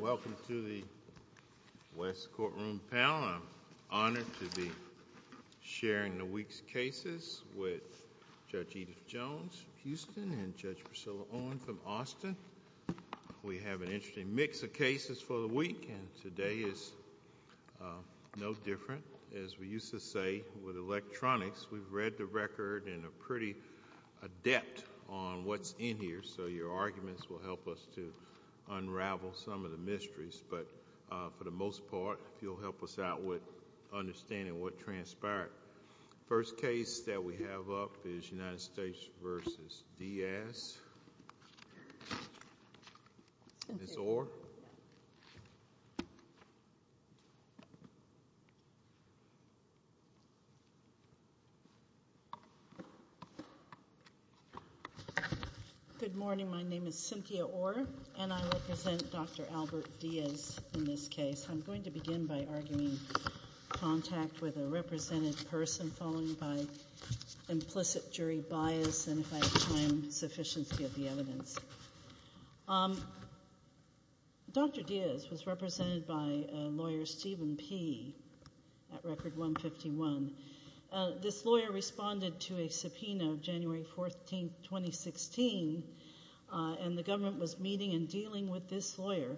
Welcome to the West Courtroom panel. I am honored to be sharing the week's cases with Judge Edith Jones from Houston and Judge Priscilla Owen from Austin. We have an interesting mix of cases for the week, and today is no different. As we used to say with electronics, we've read the record and are pretty adept on what's in here, so your arguments will help us to unravel some of the mysteries, but for the most part, if you'll help us out with understanding what transpired. The first case that we have up is United States v. Diaz. Ms. Orr? Good morning. My name is Cynthia Orr, and I represent Dr. Albert Diaz in this case. I'm going to begin by arguing contact with a represented person following by implicit jury bias, and if I have time, sufficiency of the evidence. Dr. Diaz was represented by a lawyer, Steven Peay, at Record 151. This lawyer responded to a subpoena of January 14, 2016, and the government was meeting and dealing with this lawyer.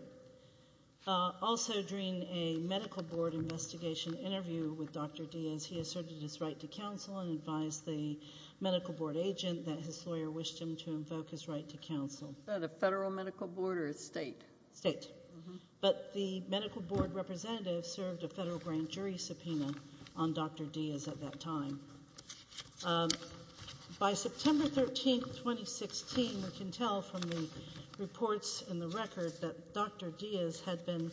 Also during a medical board investigation interview with Dr. Diaz, he asserted his right to counsel and advised the medical board agent that his lawyer wished him to invoke his right to counsel. Is that a federal medical board or a state? State. But the medical board representative served a federal grand jury subpoena on Dr. Diaz at that time. By September 13, 2016, we can tell from the reports in the record that Dr. Diaz had been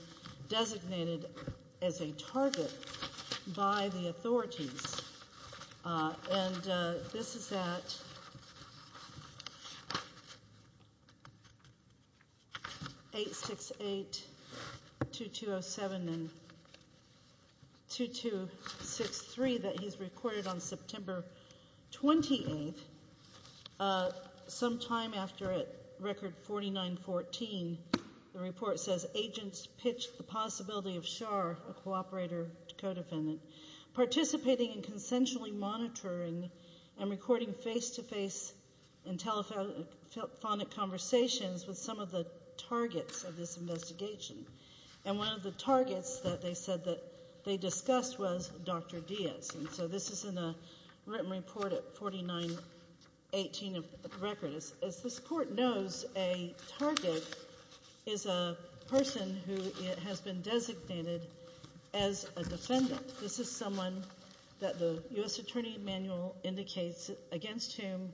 recorded on September 28, sometime after at Record 4914, the report says agents pitched the possibility of Schar, a cooperator co-defendant, participating in consensually monitoring and recording face-to-face and telephonic conversations with some of the targets of this investigation. And one of the targets that they said that they discussed was Dr. Diaz. And so this is in a written report at 4918 of the record. As this court knows, a target is a person who has been designated as a defendant. This is someone that the U.S. Attorney's Manual indicates against whom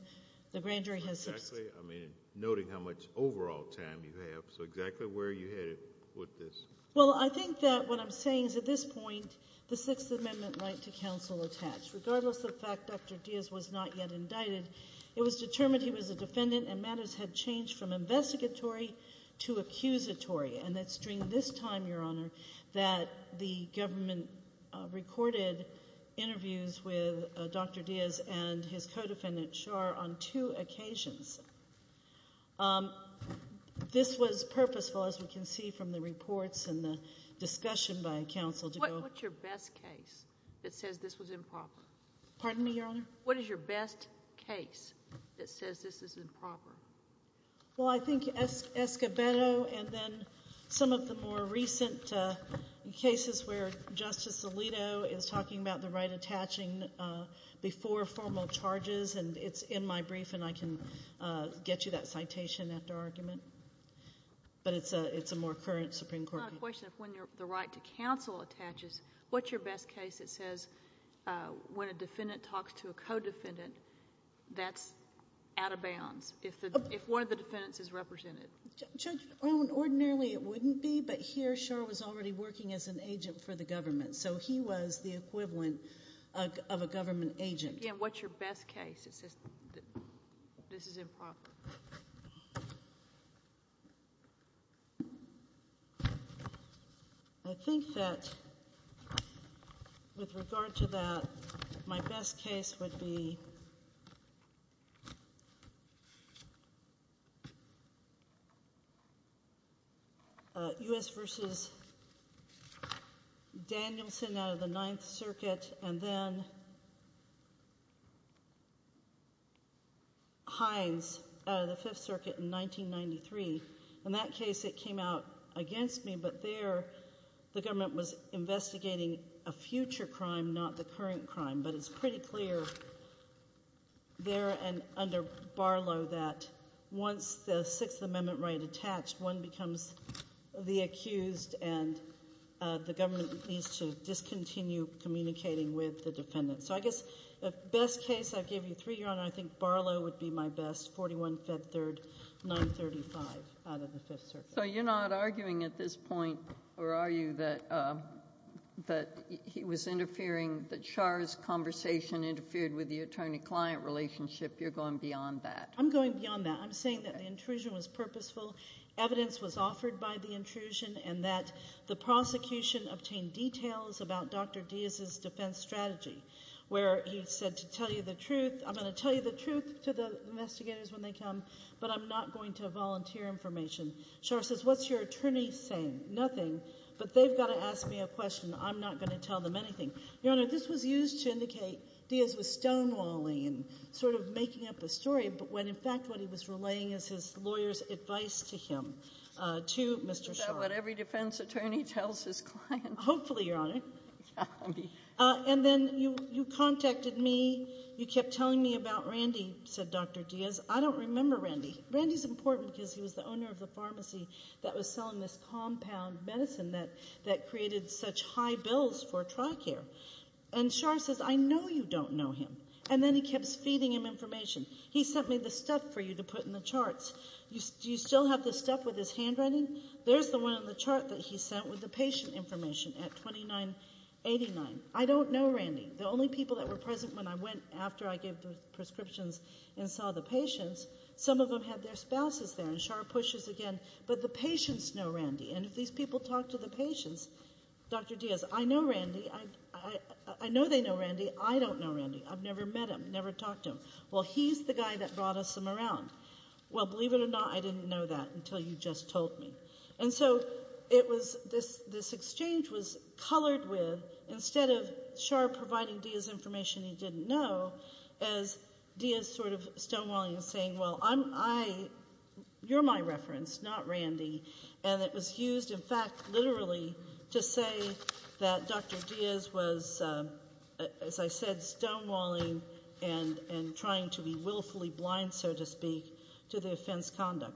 the grand jury has subpoenaed. Exactly. I mean, noting how much overall time you have. So exactly where are you headed with this? Well, I think that what I'm saying is at this point, the Sixth Amendment right to counsel attached. Regardless of the fact Dr. Diaz was not yet indicted, it was determined he was a defendant and matters had changed from investigatory to accusatory. And it's during this time, Your Honor, that the government recorded interviews with Dr. Diaz and his co-defendant Schar on two occasions. This was purposeful, as we can see from the reports and the discussion by counsel. What's your best case that says this was improper? Pardon me, Your Honor? What is your best case that says this is improper? Well, I think Escobedo and then some of the more recent cases where Justice Alito is talking about the right attaching before formal charges. And it's in my brief, and I can get you that citation after argument. But it's a more current Supreme Court case. It's not a question of when the right to counsel attaches. What's your best case that says when a defendant talks to a co-defendant, that's out of bounds, if one of the defendants is represented? Ordinarily, it wouldn't be. But here, Schar was already working as an agent for the government. So he was the equivalent of a government agent. Again, what's your best case that says this is improper? I think that with regard to that, my best case would be U.S. v. Danielson out of the Ninth Circuit and then Hines out of the Fifth Circuit in 1993. In that case, it came out against me. But there, the government was investigating a future crime, not the current crime. But it's pretty clear there and under Barlow that once the Sixth Amendment right attached, one becomes the accused and the government needs to discontinue communicating with the defendant. So I guess the best case, I gave you three, Your Honor. I think Barlow would be my best, 41 Fed Third, 935 out of the Fifth Circuit. So you're not arguing at this point, or are you, that he was interfering, that Schar's conversation interfered with the attorney-client relationship? You're going beyond that? I'm going beyond that. I'm saying that the intrusion was purposeful, evidence was offered by the intrusion, and that the prosecution obtained details about Dr. Diaz's defense strategy where he said, I'm going to tell you the truth to the investigators when they come, but I'm not going to volunteer information. Schar says, what's your attorney saying? Nothing. But they've got to ask me a question. I'm not going to tell them anything. Your Honor, this was used to indicate Diaz was stonewalling and sort of making up a story, but when in fact what he was relaying is his lawyer's advice to him, to Mr. Schar. Is that what every defense attorney tells his client? Hopefully, Your Honor. And then you contacted me, you kept telling me about Randy, said Dr. Diaz. I don't remember Randy. Randy's important because he was the owner of the pharmacy that was selling this compound medicine that created such high bills for TRICARE. And Schar says, I know you don't know him. And then he kept feeding him information. He sent me the stuff for you to put in the charts. Do you still have the stuff with his handwriting? There's the one on the chart that he sent with the patient information at $29.89. I don't know Randy. The only people that were present when I went after I gave the prescriptions and saw the patients, some of them had their spouses there. And Schar pushes again, but the patients know Randy. And if these people talk to the patients, Dr. Diaz, I know Randy. I know they know Randy. I don't know Randy. I've never met him, never talked to him. Well, he's the guy that brought us him around. Well, believe it or not, I didn't know that until you just told me. And so this exchange was colored with, instead of Schar providing Diaz information he didn't know, as Diaz sort of stonewalling and saying, well, you're my reference, not Randy. And it was used, in fact, literally to say that Dr. Diaz was, as I said, stonewalling and trying to be willfully blind, so to speak, to the offense conduct.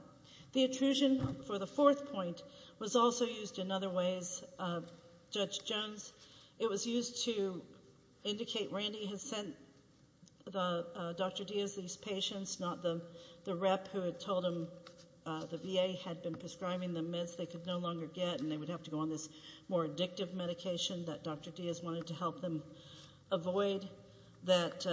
The intrusion for the fourth point was also used in other ways, Judge Jones. It was used to indicate Randy had sent Dr. Diaz these patients, not the rep who had told him the VA had been prescribing the meds they could no longer get and they would have to go on this more addictive medication that Dr. Diaz wanted to help them avoid, that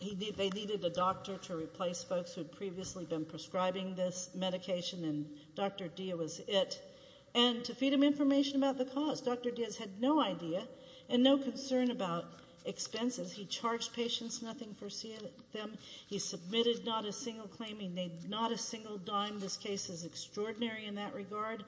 they needed a doctor to replace folks who had previously been prescribing this medication and Dr. Diaz was it, and to feed him information about the cause. Dr. Diaz had no idea and no concern about expenses. He charged patients, nothing for them. He submitted not a single claim. He made not a single dime. This case is extraordinary in that regard.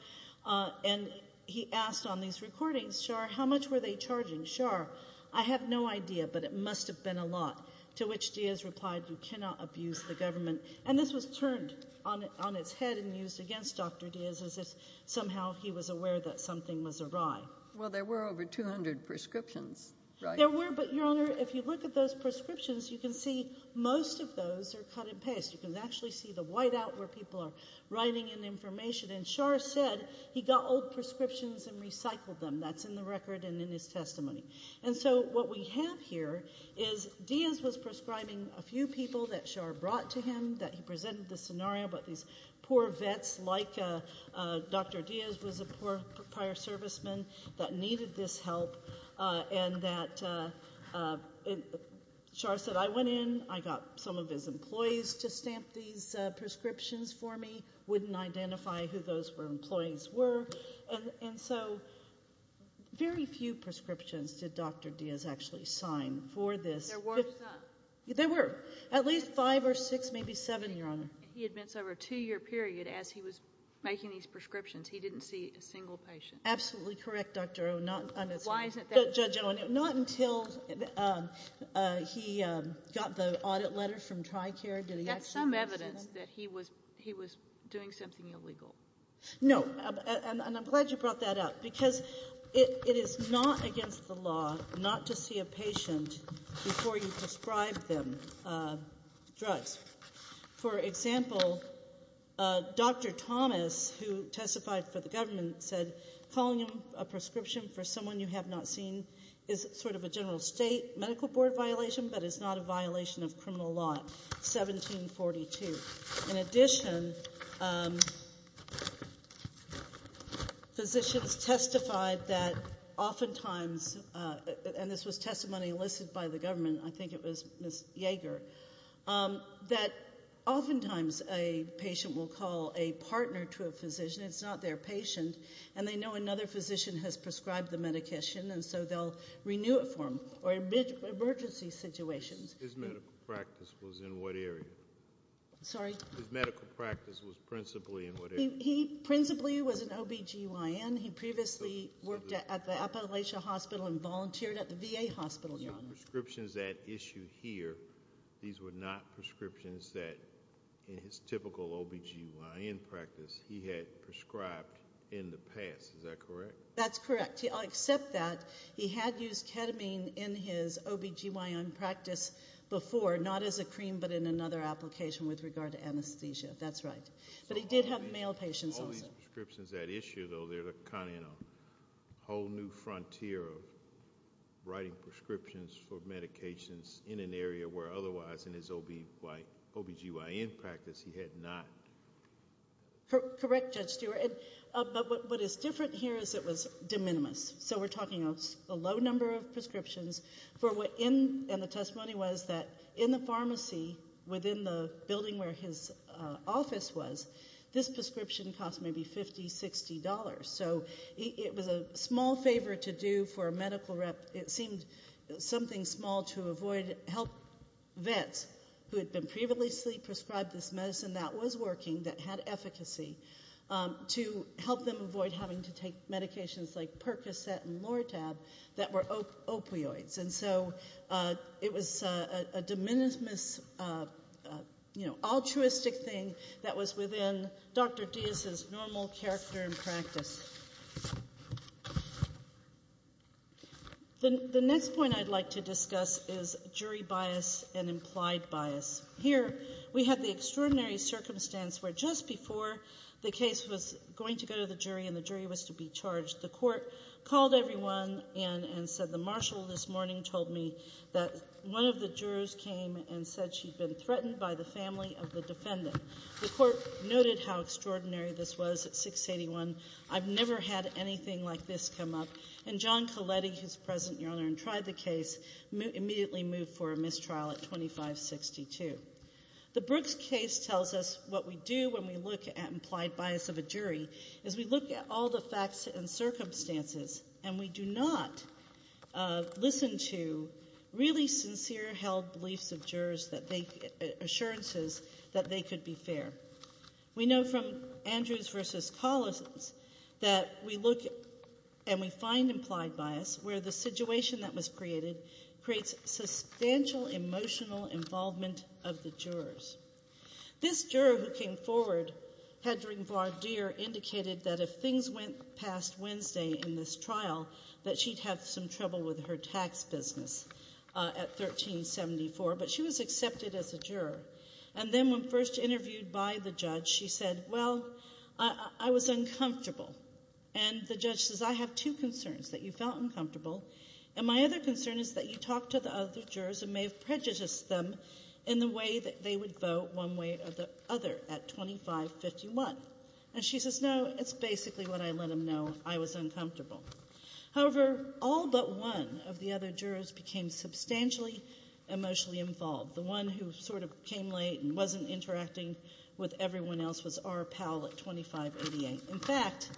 And he asked on these recordings, Schar, how much were they charging? Schar, I have no idea, but it must have been a lot. To which Diaz replied, you cannot abuse the government. And this was turned on its head and used against Dr. Diaz as if somehow he was aware that something was awry. Well, there were over 200 prescriptions, right? There were, but, Your Honor, if you look at those prescriptions, you can see most of those are cut and paste. You can actually see the whiteout where people are writing in information, and Schar said he got old prescriptions and recycled them. That's in the record and in his testimony. And so what we have here is Diaz was prescribing a few people that Schar brought to him, that he presented the scenario about these poor vets, like Dr. Diaz was a poor fire serviceman that needed this help, and that Schar said, I went in, I got some of his employees to stamp these prescriptions for me, wouldn't identify who those employees were. And so very few prescriptions did Dr. Diaz actually sign for this. There were some. There were. At least five or six, maybe seven, Your Honor. He admits over a two-year period as he was making these prescriptions, he didn't see a single patient. Absolutely correct, Dr. O. Why isn't that true? Not until he got the audit letter from TRICARE. That's some evidence that he was doing something illegal. No. And I'm glad you brought that up because it is not against the law not to see a patient before you prescribe them drugs. For example, Dr. Thomas, who testified for the government, said calling a prescription for someone you have not seen is sort of a general state medical board violation, but it's not a violation of criminal law, 1742. In addition, physicians testified that oftentimes, and this was testimony enlisted by the government, I think it was Ms. Yeager, that oftentimes a patient will call a partner to a physician, it's not their patient, and they know another physician has prescribed the medication and so they'll renew it for them or emergency situations. His medical practice was in what area? Sorry? His medical practice was principally in what area? He principally was an OB-GYN. He previously worked at the Appalachia Hospital and volunteered at the VA Hospital, Your Honor. These are prescriptions at issue here. These were not prescriptions that in his typical OB-GYN practice he had prescribed in the past. Is that correct? That's correct. I'll accept that. He had used ketamine in his OB-GYN practice before, not as a cream but in another application with regard to anesthesia. That's right. But he did have male patients also. All these prescriptions at issue, though, they're kind of in a whole new frontier of writing prescriptions for medications in an area where otherwise in his OB-GYN practice he had not. Correct, Judge Stewart. But what is different here is it was de minimis. So we're talking a low number of prescriptions. And the testimony was that in the pharmacy within the building where his office was, this prescription cost maybe $50, $60. So it was a small favor to do for a medical rep. It seemed something small to avoid. Vets who had been previously prescribed this medicine that was working, that had efficacy, to help them avoid having to take medications like Percocet and Lortab that were opioids. And so it was a de minimis, you know, altruistic thing that was within Dr. Diaz's normal character and practice. The next point I'd like to discuss is jury bias and implied bias. Here we have the extraordinary circumstance where just before the case was going to go to the jury and the jury was to be charged, the court called everyone in and said the marshal this morning told me that one of the jurors came and said she'd been threatened by the family of the defendant. The court noted how extraordinary this was at 681. I've never had anything like this come up. And John Coletti, who's present and tried the case, immediately moved for a mistrial at 2562. The Brooks case tells us what we do when we look at implied bias of a jury is we look at all the facts and circumstances, and we do not listen to really sincere held beliefs of jurors, assurances that they could be fair. We know from Andrews v. Collison's that we look and we find implied bias where the situation that was created creates substantial emotional involvement of the jurors. This juror who came forward, Hedring Vardier, indicated that if things went past Wednesday in this trial, that she'd have some trouble with her tax business at 1374. But she was accepted as a juror. And then when first interviewed by the judge, she said, well, I was uncomfortable. And the judge says, I have two concerns, that you felt uncomfortable. And my other concern is that you talked to the other jurors and may have prejudiced them in the way that they would vote one way or the other at 2551. And she says, no, it's basically what I let them know. I was uncomfortable. However, all but one of the other jurors became substantially emotionally involved. The one who sort of came late and wasn't interacting with everyone else was R. Powell at 2588. In fact,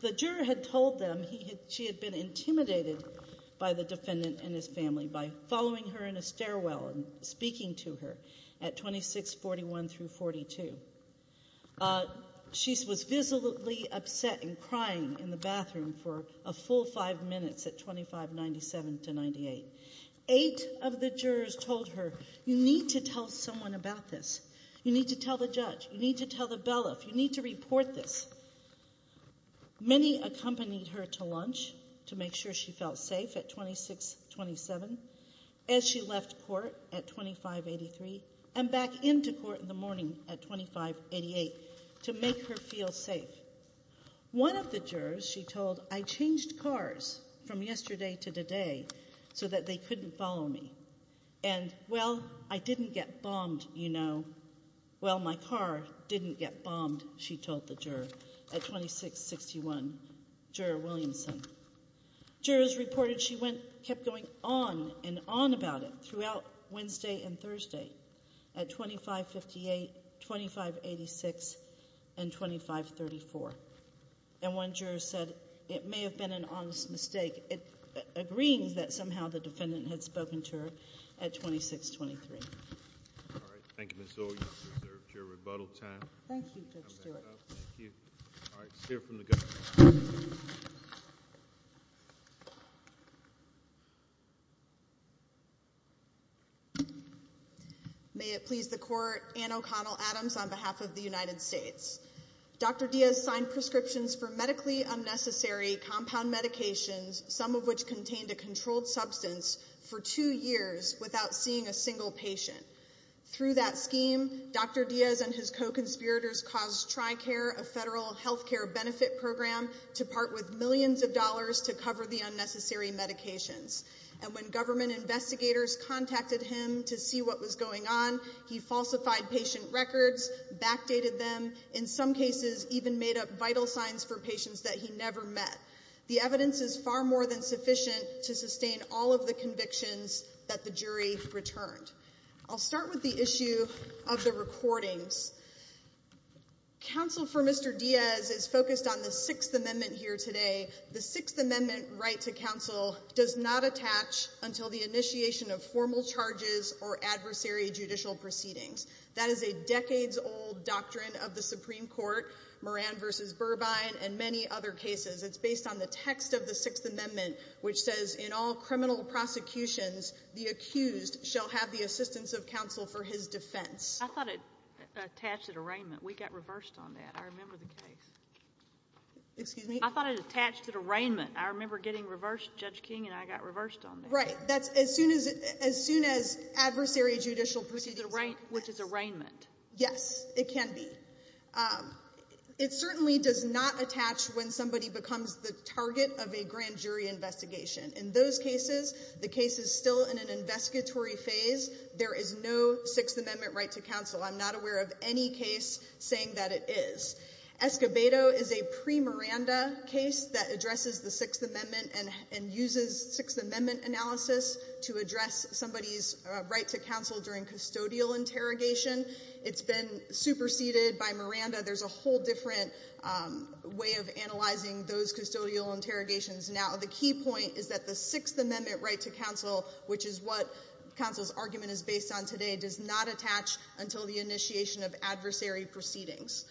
the juror had told them she had been intimidated by the defendant and his family by following her in a stairwell and speaking to her at 2641 through 42. She was visibly upset and crying in the bathroom for a full five minutes at 2597 to 98. Eight of the jurors told her, you need to tell someone about this. You need to tell the judge. You need to tell the bailiff. You need to report this. Many accompanied her to lunch to make sure she felt safe at 2627 as she left court at 2583 and back into court in the morning at 2588 to make her feel safe. One of the jurors, she told, I changed cars from yesterday to today so that they couldn't follow me. And, well, I didn't get bombed, you know. Well, my car didn't get bombed, she told the juror at 2661, Juror Williamson. Jurors reported she kept going on and on about it throughout Wednesday and Thursday at 2558, 2586, and 2534. And one juror said it may have been an honest mistake, agreeing that somehow the defendant had spoken to her at 2623. All right, thank you, Ms. Zoll. You have reserved your rebuttal time. Thank you, Judge Stewart. Thank you. All right, let's hear from the judge. May it please the Court, Anne O'Connell Adams on behalf of the United States. Dr. Diaz signed prescriptions for medically unnecessary compound medications, some of which contained a controlled substance, for two years without seeing a single patient. Through that scheme, Dr. Diaz and his co-conspirators caused Tricare, a federal health care benefit program, to part with millions of dollars to cover the unnecessary medications. And when government investigators contacted him to see what was going on, he falsified patient records, backdated them, in some cases even made up vital signs for patients that he never met. The evidence is far more than sufficient to sustain all of the convictions that the jury returned. I'll start with the issue of the recordings. Counsel for Mr. Diaz is focused on the Sixth Amendment here today. The Sixth Amendment right to counsel does not attach until the initiation of formal charges or adversary judicial proceedings. That is a decades-old doctrine of the Supreme Court, Moran v. Burbine, and many other cases. It's based on the text of the Sixth Amendment, which says, in all criminal prosecutions, the accused shall have the assistance of counsel for his defense. I thought it attached at arraignment. We got reversed on that. I remember the case. Excuse me? I thought it attached at arraignment. I remember getting reversed. Judge King and I got reversed on that. Right. That's as soon as adversary judicial proceedings. Which is arraignment. Yes, it can be. It certainly does not attach when somebody becomes the target of a grand jury investigation. In those cases, the case is still in an investigatory phase. There is no Sixth Amendment right to counsel. I'm not aware of any case saying that it is. Escobedo is a pre-Miranda case that addresses the Sixth Amendment and uses Sixth Amendment analysis to address somebody's right to counsel during custodial interrogation. It's been superseded by Miranda. There's a whole different way of analyzing those custodial interrogations now. The key point is that the Sixth Amendment right to counsel, which is what counsel's argument is based on today, does not attach until the initiation of adversary proceedings.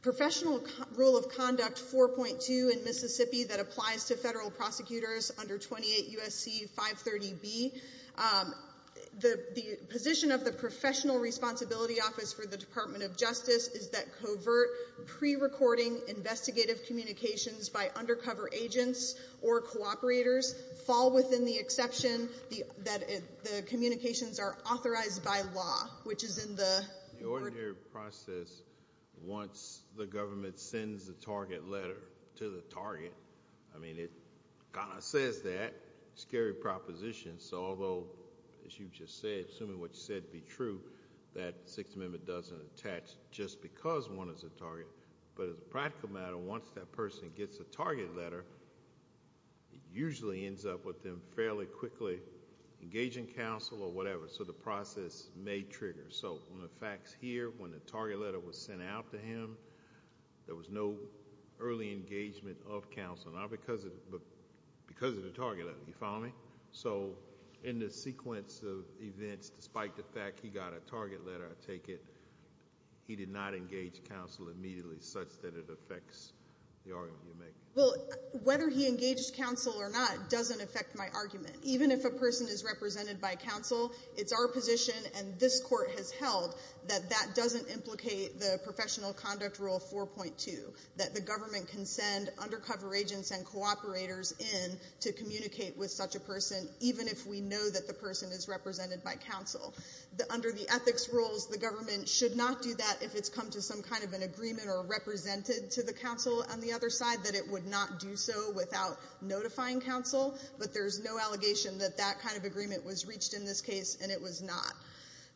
Professional rule of conduct 4.2 in Mississippi that applies to federal prosecutors under 28 U.S.C. 530B. The position of the professional responsibility office for the Department of Justice is that covert pre-recording investigative communications by undercover agents or cooperators fall within the exception that the communications are authorized by law, which is in the— The ordinary process, once the government sends the target letter to the target, I mean, it kind of says that. It's a scary proposition, so although, as you just said, assuming what you said to be true, that Sixth Amendment doesn't attach just because one is a target. But as a practical matter, once that person gets a target letter, it usually ends up with them fairly quickly engaging counsel or whatever, so the process may trigger. So on the facts here, when the target letter was sent out to him, there was no early engagement of counsel, not because of the target letter. You follow me? So in the sequence of events, despite the fact he got a target letter, I take it he did not engage counsel immediately such that it affects the argument you're making. Well, whether he engaged counsel or not doesn't affect my argument. Even if a person is represented by counsel, it's our position, and this Court has held, that that doesn't implicate the professional conduct rule 4.2, that the government can send undercover agents and cooperators in to communicate with such a person, even if we know that the person is represented by counsel. Under the ethics rules, the government should not do that if it's come to some kind of an agreement or represented to the counsel on the other side, that it would not do so without notifying counsel. But there's no allegation that that kind of agreement was reached in this case, and it was not.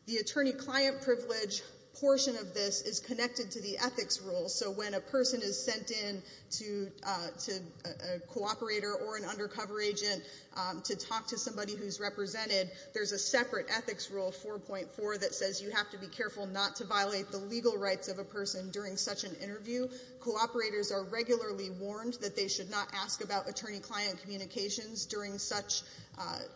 The attorney-client privilege portion of this is connected to the ethics rules. So when a person is sent in to a cooperator or an undercover agent to talk to somebody who's represented, there's a separate ethics rule 4.4 that says you have to be careful not to violate the legal rights of a person during such an interview. Cooperators are regularly warned that they should not ask about attorney-client communications during such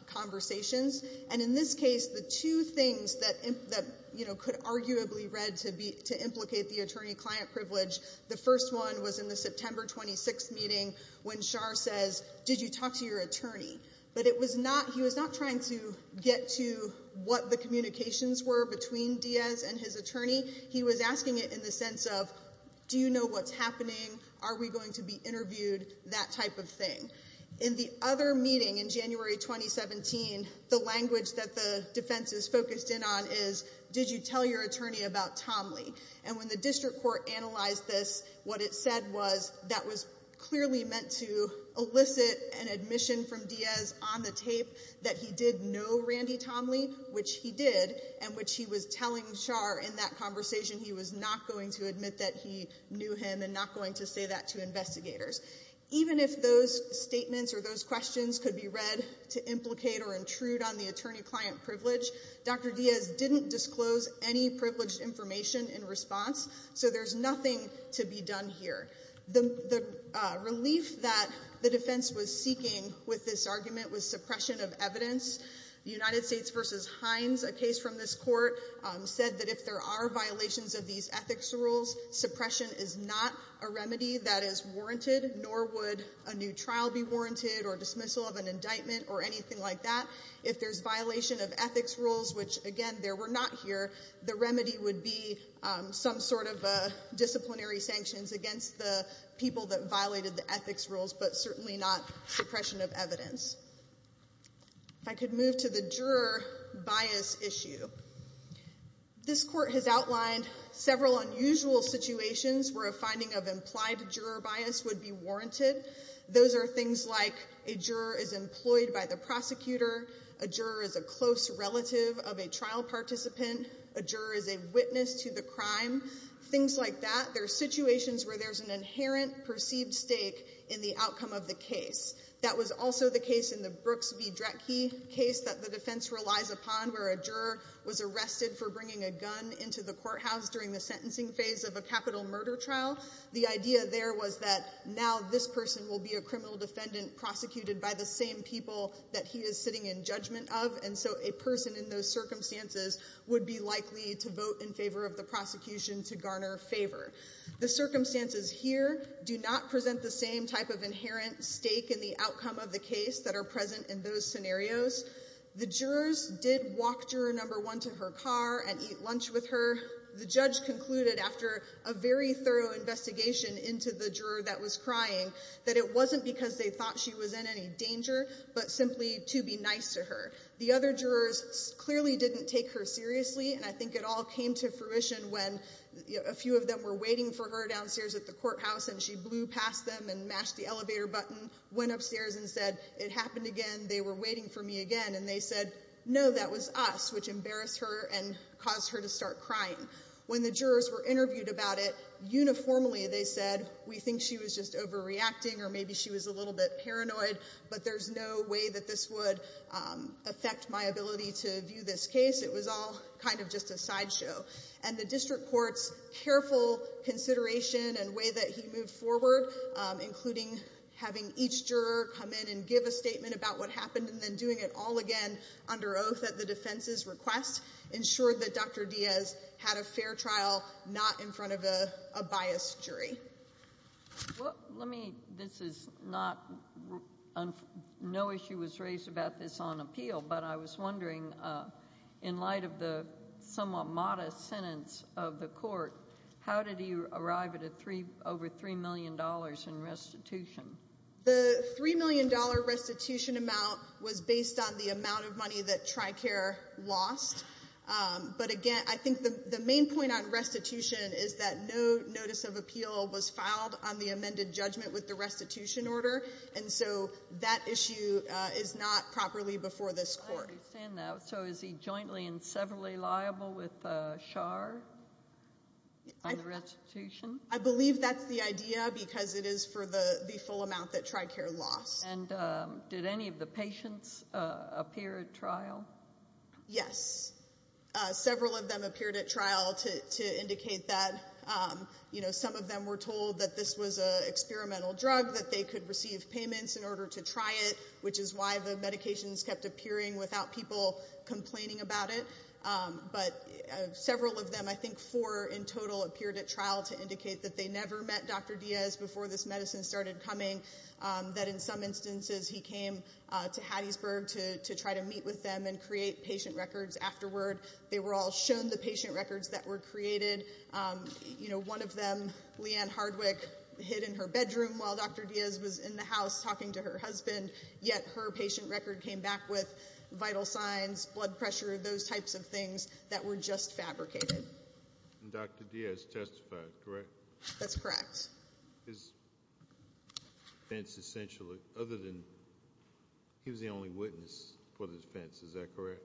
conversations. And in this case, the two things that, you know, could arguably read to implicate the attorney-client privilege, the first one was in the September 26th meeting when Schar says, did you talk to your attorney? But it was not, he was not trying to get to what the communications were between Diaz and his attorney. He was asking it in the sense of, do you know what's happening? Are we going to be interviewed? That type of thing. In the other meeting in January 2017, the language that the defenses focused in on is, did you tell your attorney about Tomley? And when the district court analyzed this, what it said was that was clearly meant to elicit an admission from Diaz on the tape that he did know Randy Tomley, which he did, and which he was telling Schar in that conversation he was not going to admit that he knew him and not going to say that to investigators. Even if those statements or those questions could be read to implicate or intrude on the attorney-client privilege, Dr. Diaz didn't disclose any privileged information in response, so there's nothing to be done here. The relief that the defense was seeking with this argument was suppression of evidence. The United States v. Hines, a case from this court, said that if there are violations of these ethics rules, suppression is not a remedy that is warranted, nor would a new trial be warranted or dismissal of an indictment or anything like that. If there's violation of ethics rules, which, again, there were not here, the remedy would be some sort of disciplinary sanctions against the people that violated the ethics rules, but certainly not suppression of evidence. If I could move to the juror bias issue. This court has outlined several unusual situations where a finding of implied juror bias would be warranted. Those are things like a juror is employed by the prosecutor, a juror is a close relative of a trial participant, a juror is a witness to the crime, things like that. There are situations where there's an inherent perceived stake in the outcome of the case. That was also the case in the Brooks v. Dretke case that the defense relies upon, where a juror was arrested for bringing a gun into the courthouse during the sentencing phase of a capital murder trial. The idea there was that now this person will be a criminal defendant prosecuted by the same people that he is sitting in judgment of, and so a person in those circumstances would be likely to vote in favor of the prosecution to garner favor. The circumstances here do not present the same type of inherent stake in the outcome of the case that are present in those scenarios. The jurors did walk juror number one to her car and eat lunch with her. The judge concluded after a very thorough investigation into the juror that was crying that it wasn't because they thought she was in any danger, but simply to be nice to her. The other jurors clearly didn't take her seriously, and I think it all came to fruition when a few of them were waiting for her downstairs at the courthouse and she blew past them and mashed the elevator button, went upstairs and said, it happened again, they were waiting for me again, and they said, no, that was us, which embarrassed her and caused her to start crying. When the jurors were interviewed about it, uniformly they said, we think she was just overreacting or maybe she was a little bit paranoid, but there's no way that this would affect my ability to view this case. It was all kind of just a sideshow. And the district court's careful consideration and way that he moved forward, including having each juror come in and give a statement about what happened and then doing it all again under oath at the defense's request, ensured that Dr. Diaz had a fair trial not in front of a biased jury. Well, let me, this is not, no issue was raised about this on appeal, but I was wondering in light of the somewhat modest sentence of the court, how did he arrive at over $3 million in restitution? The $3 million restitution amount was based on the amount of money that TRICARE lost. But, again, I think the main point on restitution is that no notice of appeal was filed on the amended judgment with the restitution order, and so that issue is not properly before this court. I understand that. So is he jointly and severally liable with Char on the restitution? I believe that's the idea because it is for the full amount that TRICARE lost. And did any of the patients appear at trial? Yes. Several of them appeared at trial to indicate that. Some of them were told that this was an experimental drug, that they could receive payments in order to try it, which is why the medications kept appearing without people complaining about it. But several of them, I think four in total, appeared at trial to indicate that they never met Dr. Diaz before this medicine started coming, that in some instances he came to Hattiesburg to try to meet with them and create patient records afterward. They were all shown the patient records that were created. One of them, Leanne Hardwick, hid in her bedroom while Dr. Diaz was in the house talking to her husband, yet her patient record came back with vital signs, blood pressure, those types of things that were just fabricated. And Dr. Diaz testified, correct? That's correct. His defense essentially, other than he was the only witness for the defense, is that correct?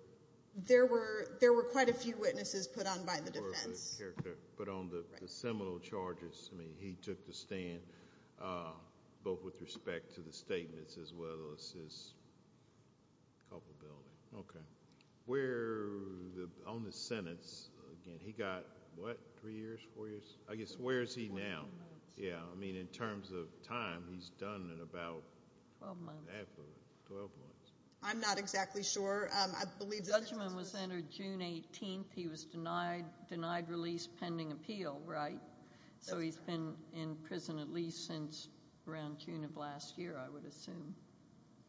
There were quite a few witnesses put on by the defense. But on the seminal charges, I mean, he took the stand, both with respect to the statements as well as his culpability. Okay. On the sentence, again, he got, what, three years, four years? I guess, where is he now? I mean, in terms of time, he's done in about half of it, 12 months. I'm not exactly sure. The judgment was entered June 18th. He was denied release pending appeal, right? So he's been in prison at least since around June of last year, I would assume.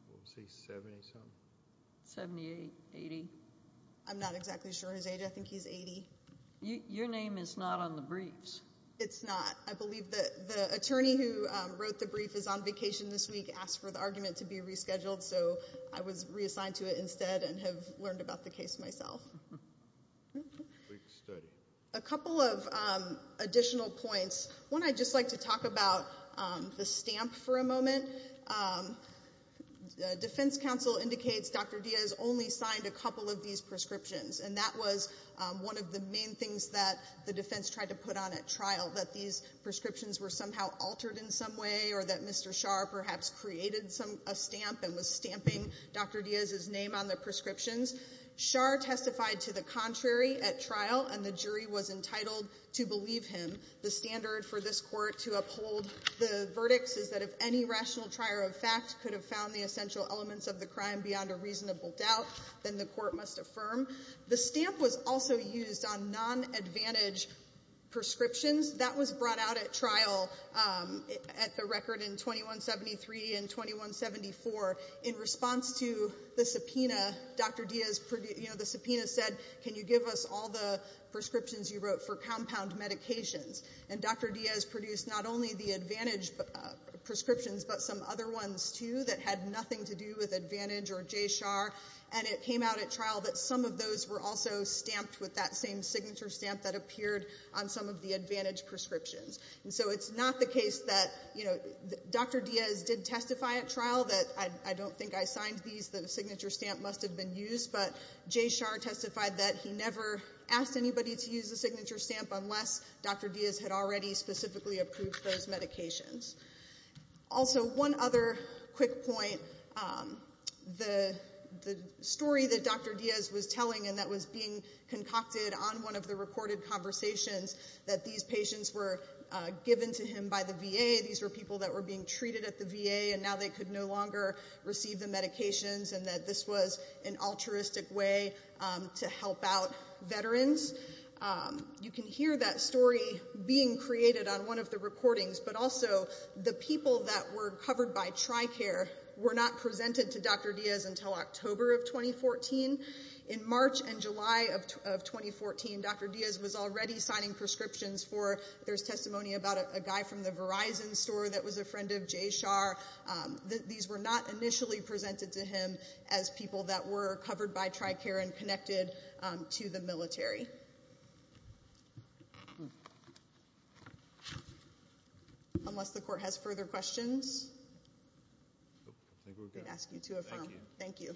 I would say 70-something. 78, 80? I'm not exactly sure his age. I think he's 80. Your name is not on the briefs. It's not. I believe the attorney who wrote the brief is on vacation this week, asked for the argument to be rescheduled, so I was reassigned to it instead and have learned about the case myself. A couple of additional points. One, I'd just like to talk about the stamp for a moment. Defense counsel indicates Dr. Diaz only signed a couple of these prescriptions, and that was one of the main things that the defense tried to put on at trial, that these prescriptions were somehow altered in some way or that Mr. Scharr perhaps created a stamp and was stamping Dr. Diaz's name on the prescriptions. Scharr testified to the contrary at trial, and the jury was entitled to believe him. The standard for this court to uphold the verdicts is that if any rational trier of fact could have found the essential elements of the crime beyond a reasonable doubt, then the court must affirm. The stamp was also used on nonadvantaged prescriptions. That was brought out at trial at the record in 2173 and 2174. In response to the subpoena, the subpoena said, can you give us all the prescriptions you wrote for compound medications? And Dr. Diaz produced not only the advantaged prescriptions but some other ones too that had nothing to do with advantage or Jay Scharr, and it came out at trial that some of those were also stamped with that same signature stamp that appeared on some of the advantaged prescriptions. And so it's not the case that, you know, Dr. Diaz did testify at trial that I don't think I signed these, the signature stamp must have been used, but Jay Scharr testified that he never asked anybody to use the signature stamp unless Dr. Diaz had already specifically approved those medications. Also, one other quick point, the story that Dr. Diaz was telling and that was being concocted on one of the recorded conversations that these patients were given to him by the VA, these were people that were being treated at the VA and now they could no longer receive the medications and that this was an altruistic way to help out veterans. You can hear that story being created on one of the recordings, but also the people that were covered by TRICARE were not presented to Dr. Diaz until October of 2014. In March and July of 2014, Dr. Diaz was already signing prescriptions for there's testimony about a guy from the Verizon store that was a friend of Jay Scharr. These were not initially presented to him as people that were covered by TRICARE and connected to the military. Unless the Court has further questions. I think we've got it. We can ask you to affirm. Thank you. Thank you.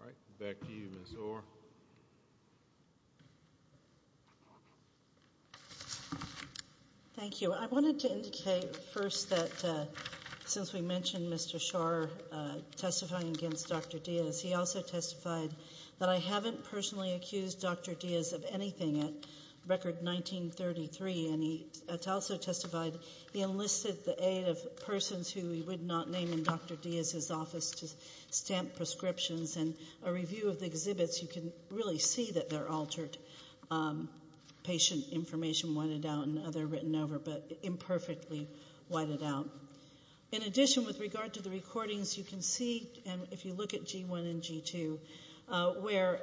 All right. Back to you, Ms. Orr. Thank you. I wanted to indicate first that since we mentioned Mr. Scharr testifying against Dr. Diaz, he also testified that I haven't personally accused Dr. Diaz of anything at Record 1933 and he also testified he enlisted the aid of persons who he would not name in Dr. Diaz's office to stamp prescriptions and a review of the exhibits. You can really see that they're altered. Patient information whited out and other written over, but imperfectly whited out. In addition, with regard to the recordings, you can see, and if you look at G1 and G2, where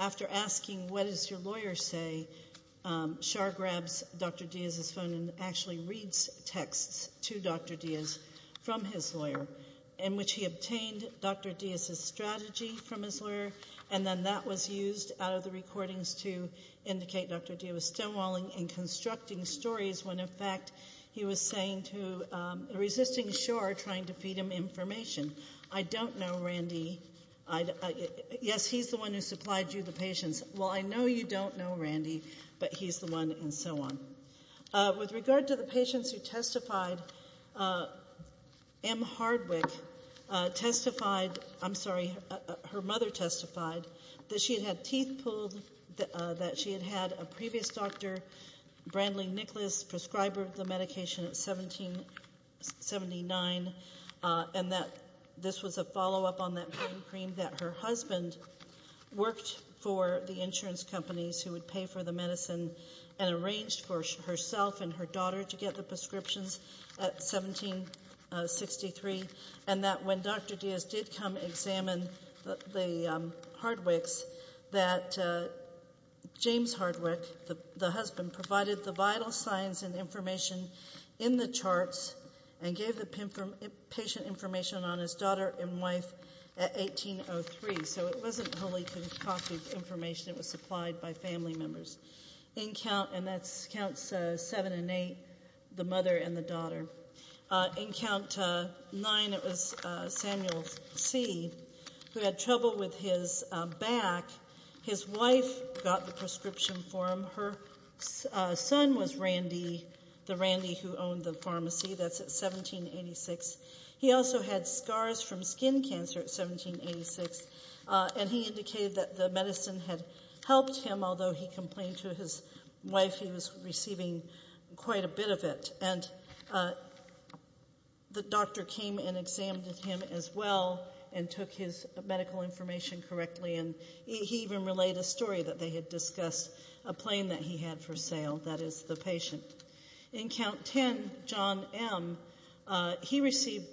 after asking what does your lawyer say, Scharr grabs Dr. Diaz's phone and actually reads texts to Dr. Diaz from his lawyer in which he obtained Dr. Diaz's strategy from his lawyer, and then that was used out of the recordings to indicate Dr. Diaz was stonewalling and constructing stories when, in fact, he was resisting Scharr trying to feed him information. I don't know Randy. Yes, he's the one who supplied you the patients. Well, I know you don't know Randy, but he's the one and so on. With regard to the patients who testified, M. Hardwick testified, I'm sorry, her mother testified that she had had teeth pulled, that she had had a previous doctor, Brandley Nicholas, prescriber of the medication at 1779, and that this was a follow-up on that pain cream, that her husband worked for the insurance companies who would pay for the medicine and arranged for herself and her daughter to get the prescriptions at 1763, and that when Dr. Diaz did come examine the Hardwicks, that James Hardwick, the husband, provided the vital signs and information in the charts and gave the patient information on his daughter and wife at 1803. So it wasn't wholly concocted information. It was supplied by family members. In count seven and eight, the mother and the daughter. In count nine, it was Samuel C., who had trouble with his back. His wife got the prescription for him. Her son was Randy, the Randy who owned the pharmacy. That's at 1786. He also had scars from skin cancer at 1786, and he indicated that the medicine had helped him, although he complained to his wife he was receiving quite a bit of it. And the doctor came and examined him as well and took his medical information correctly, and he even relayed a story that they had discussed a plane that he had for sale. That is the patient. In count ten, John M., he received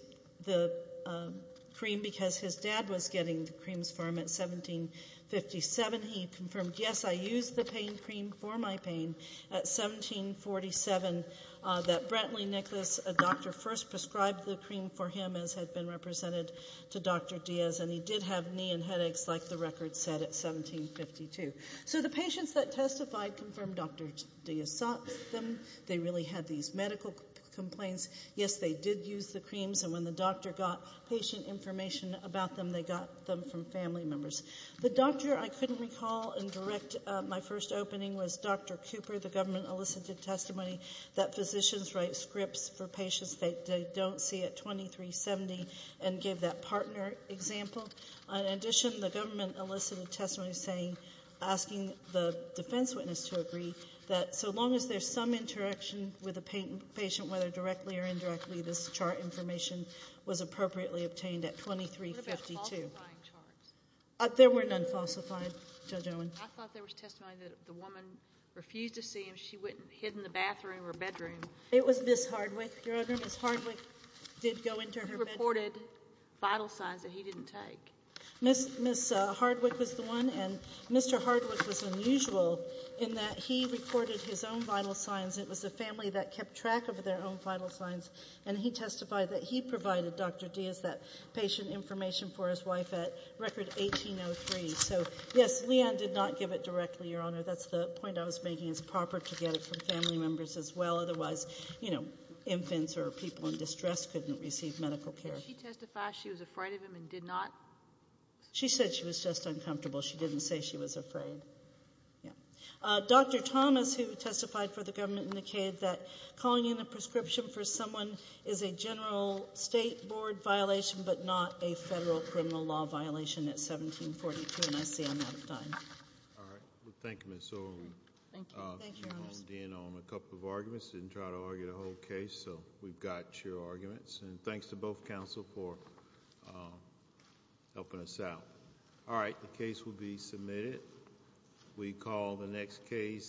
the cream because his dad was getting the creams for him at 1757. He confirmed, yes, I used the pain cream for my pain at 1747. That Brantley Nicholas, a doctor, first prescribed the cream for him as had been represented to Dr. Diaz, and he did have knee and headaches like the record said at 1752. So the patients that testified confirmed Dr. Diaz sought them. They really had these medical complaints. Yes, they did use the creams, and when the doctor got patient information about them, they got them from family members. The doctor I couldn't recall and direct my first opening was Dr. Cooper. The government elicited testimony that physicians write scripts for patients they don't see at 2370 and gave that partner example. In addition, the government elicited testimony asking the defense witness to agree that so long as there's some interaction with a patient, whether directly or indirectly, this chart information was appropriately obtained at 2352. What about falsifying charts? There were none falsified, Judge Owen. I thought there was testimony that the woman refused to see him. She hid in the bathroom or bedroom. It was Ms. Hardwick. Your Honor, Ms. Hardwick did go into her bedroom. She reported vital signs that he didn't take. Ms. Hardwick was the one, and Mr. Hardwick was unusual in that he recorded his own vital signs. It was the family that kept track of their own vital signs, and he testified that he provided Dr. Diaz that patient information for his wife at record 1803. So, yes, Leanne did not give it directly, Your Honor. That's the point I was making is proper to get it from family members as well. Otherwise, you know, infants or people in distress couldn't receive medical care. Did she testify she was afraid of him and did not? She said she was just uncomfortable. She didn't say she was afraid. Dr. Thomas, who testified for the government, indicated that calling in a prescription for someone is a general state board violation but not a federal criminal law violation at 1742, and I see I'm out of time. All right. Thank you, Ms. Owen. Thank you. Thank you, Your Honor. We've honed in on a couple of arguments. Didn't try to argue the whole case, so we've got your arguments. And thanks to both counsel for helping us out. All right. The case will be submitted. We call the next case.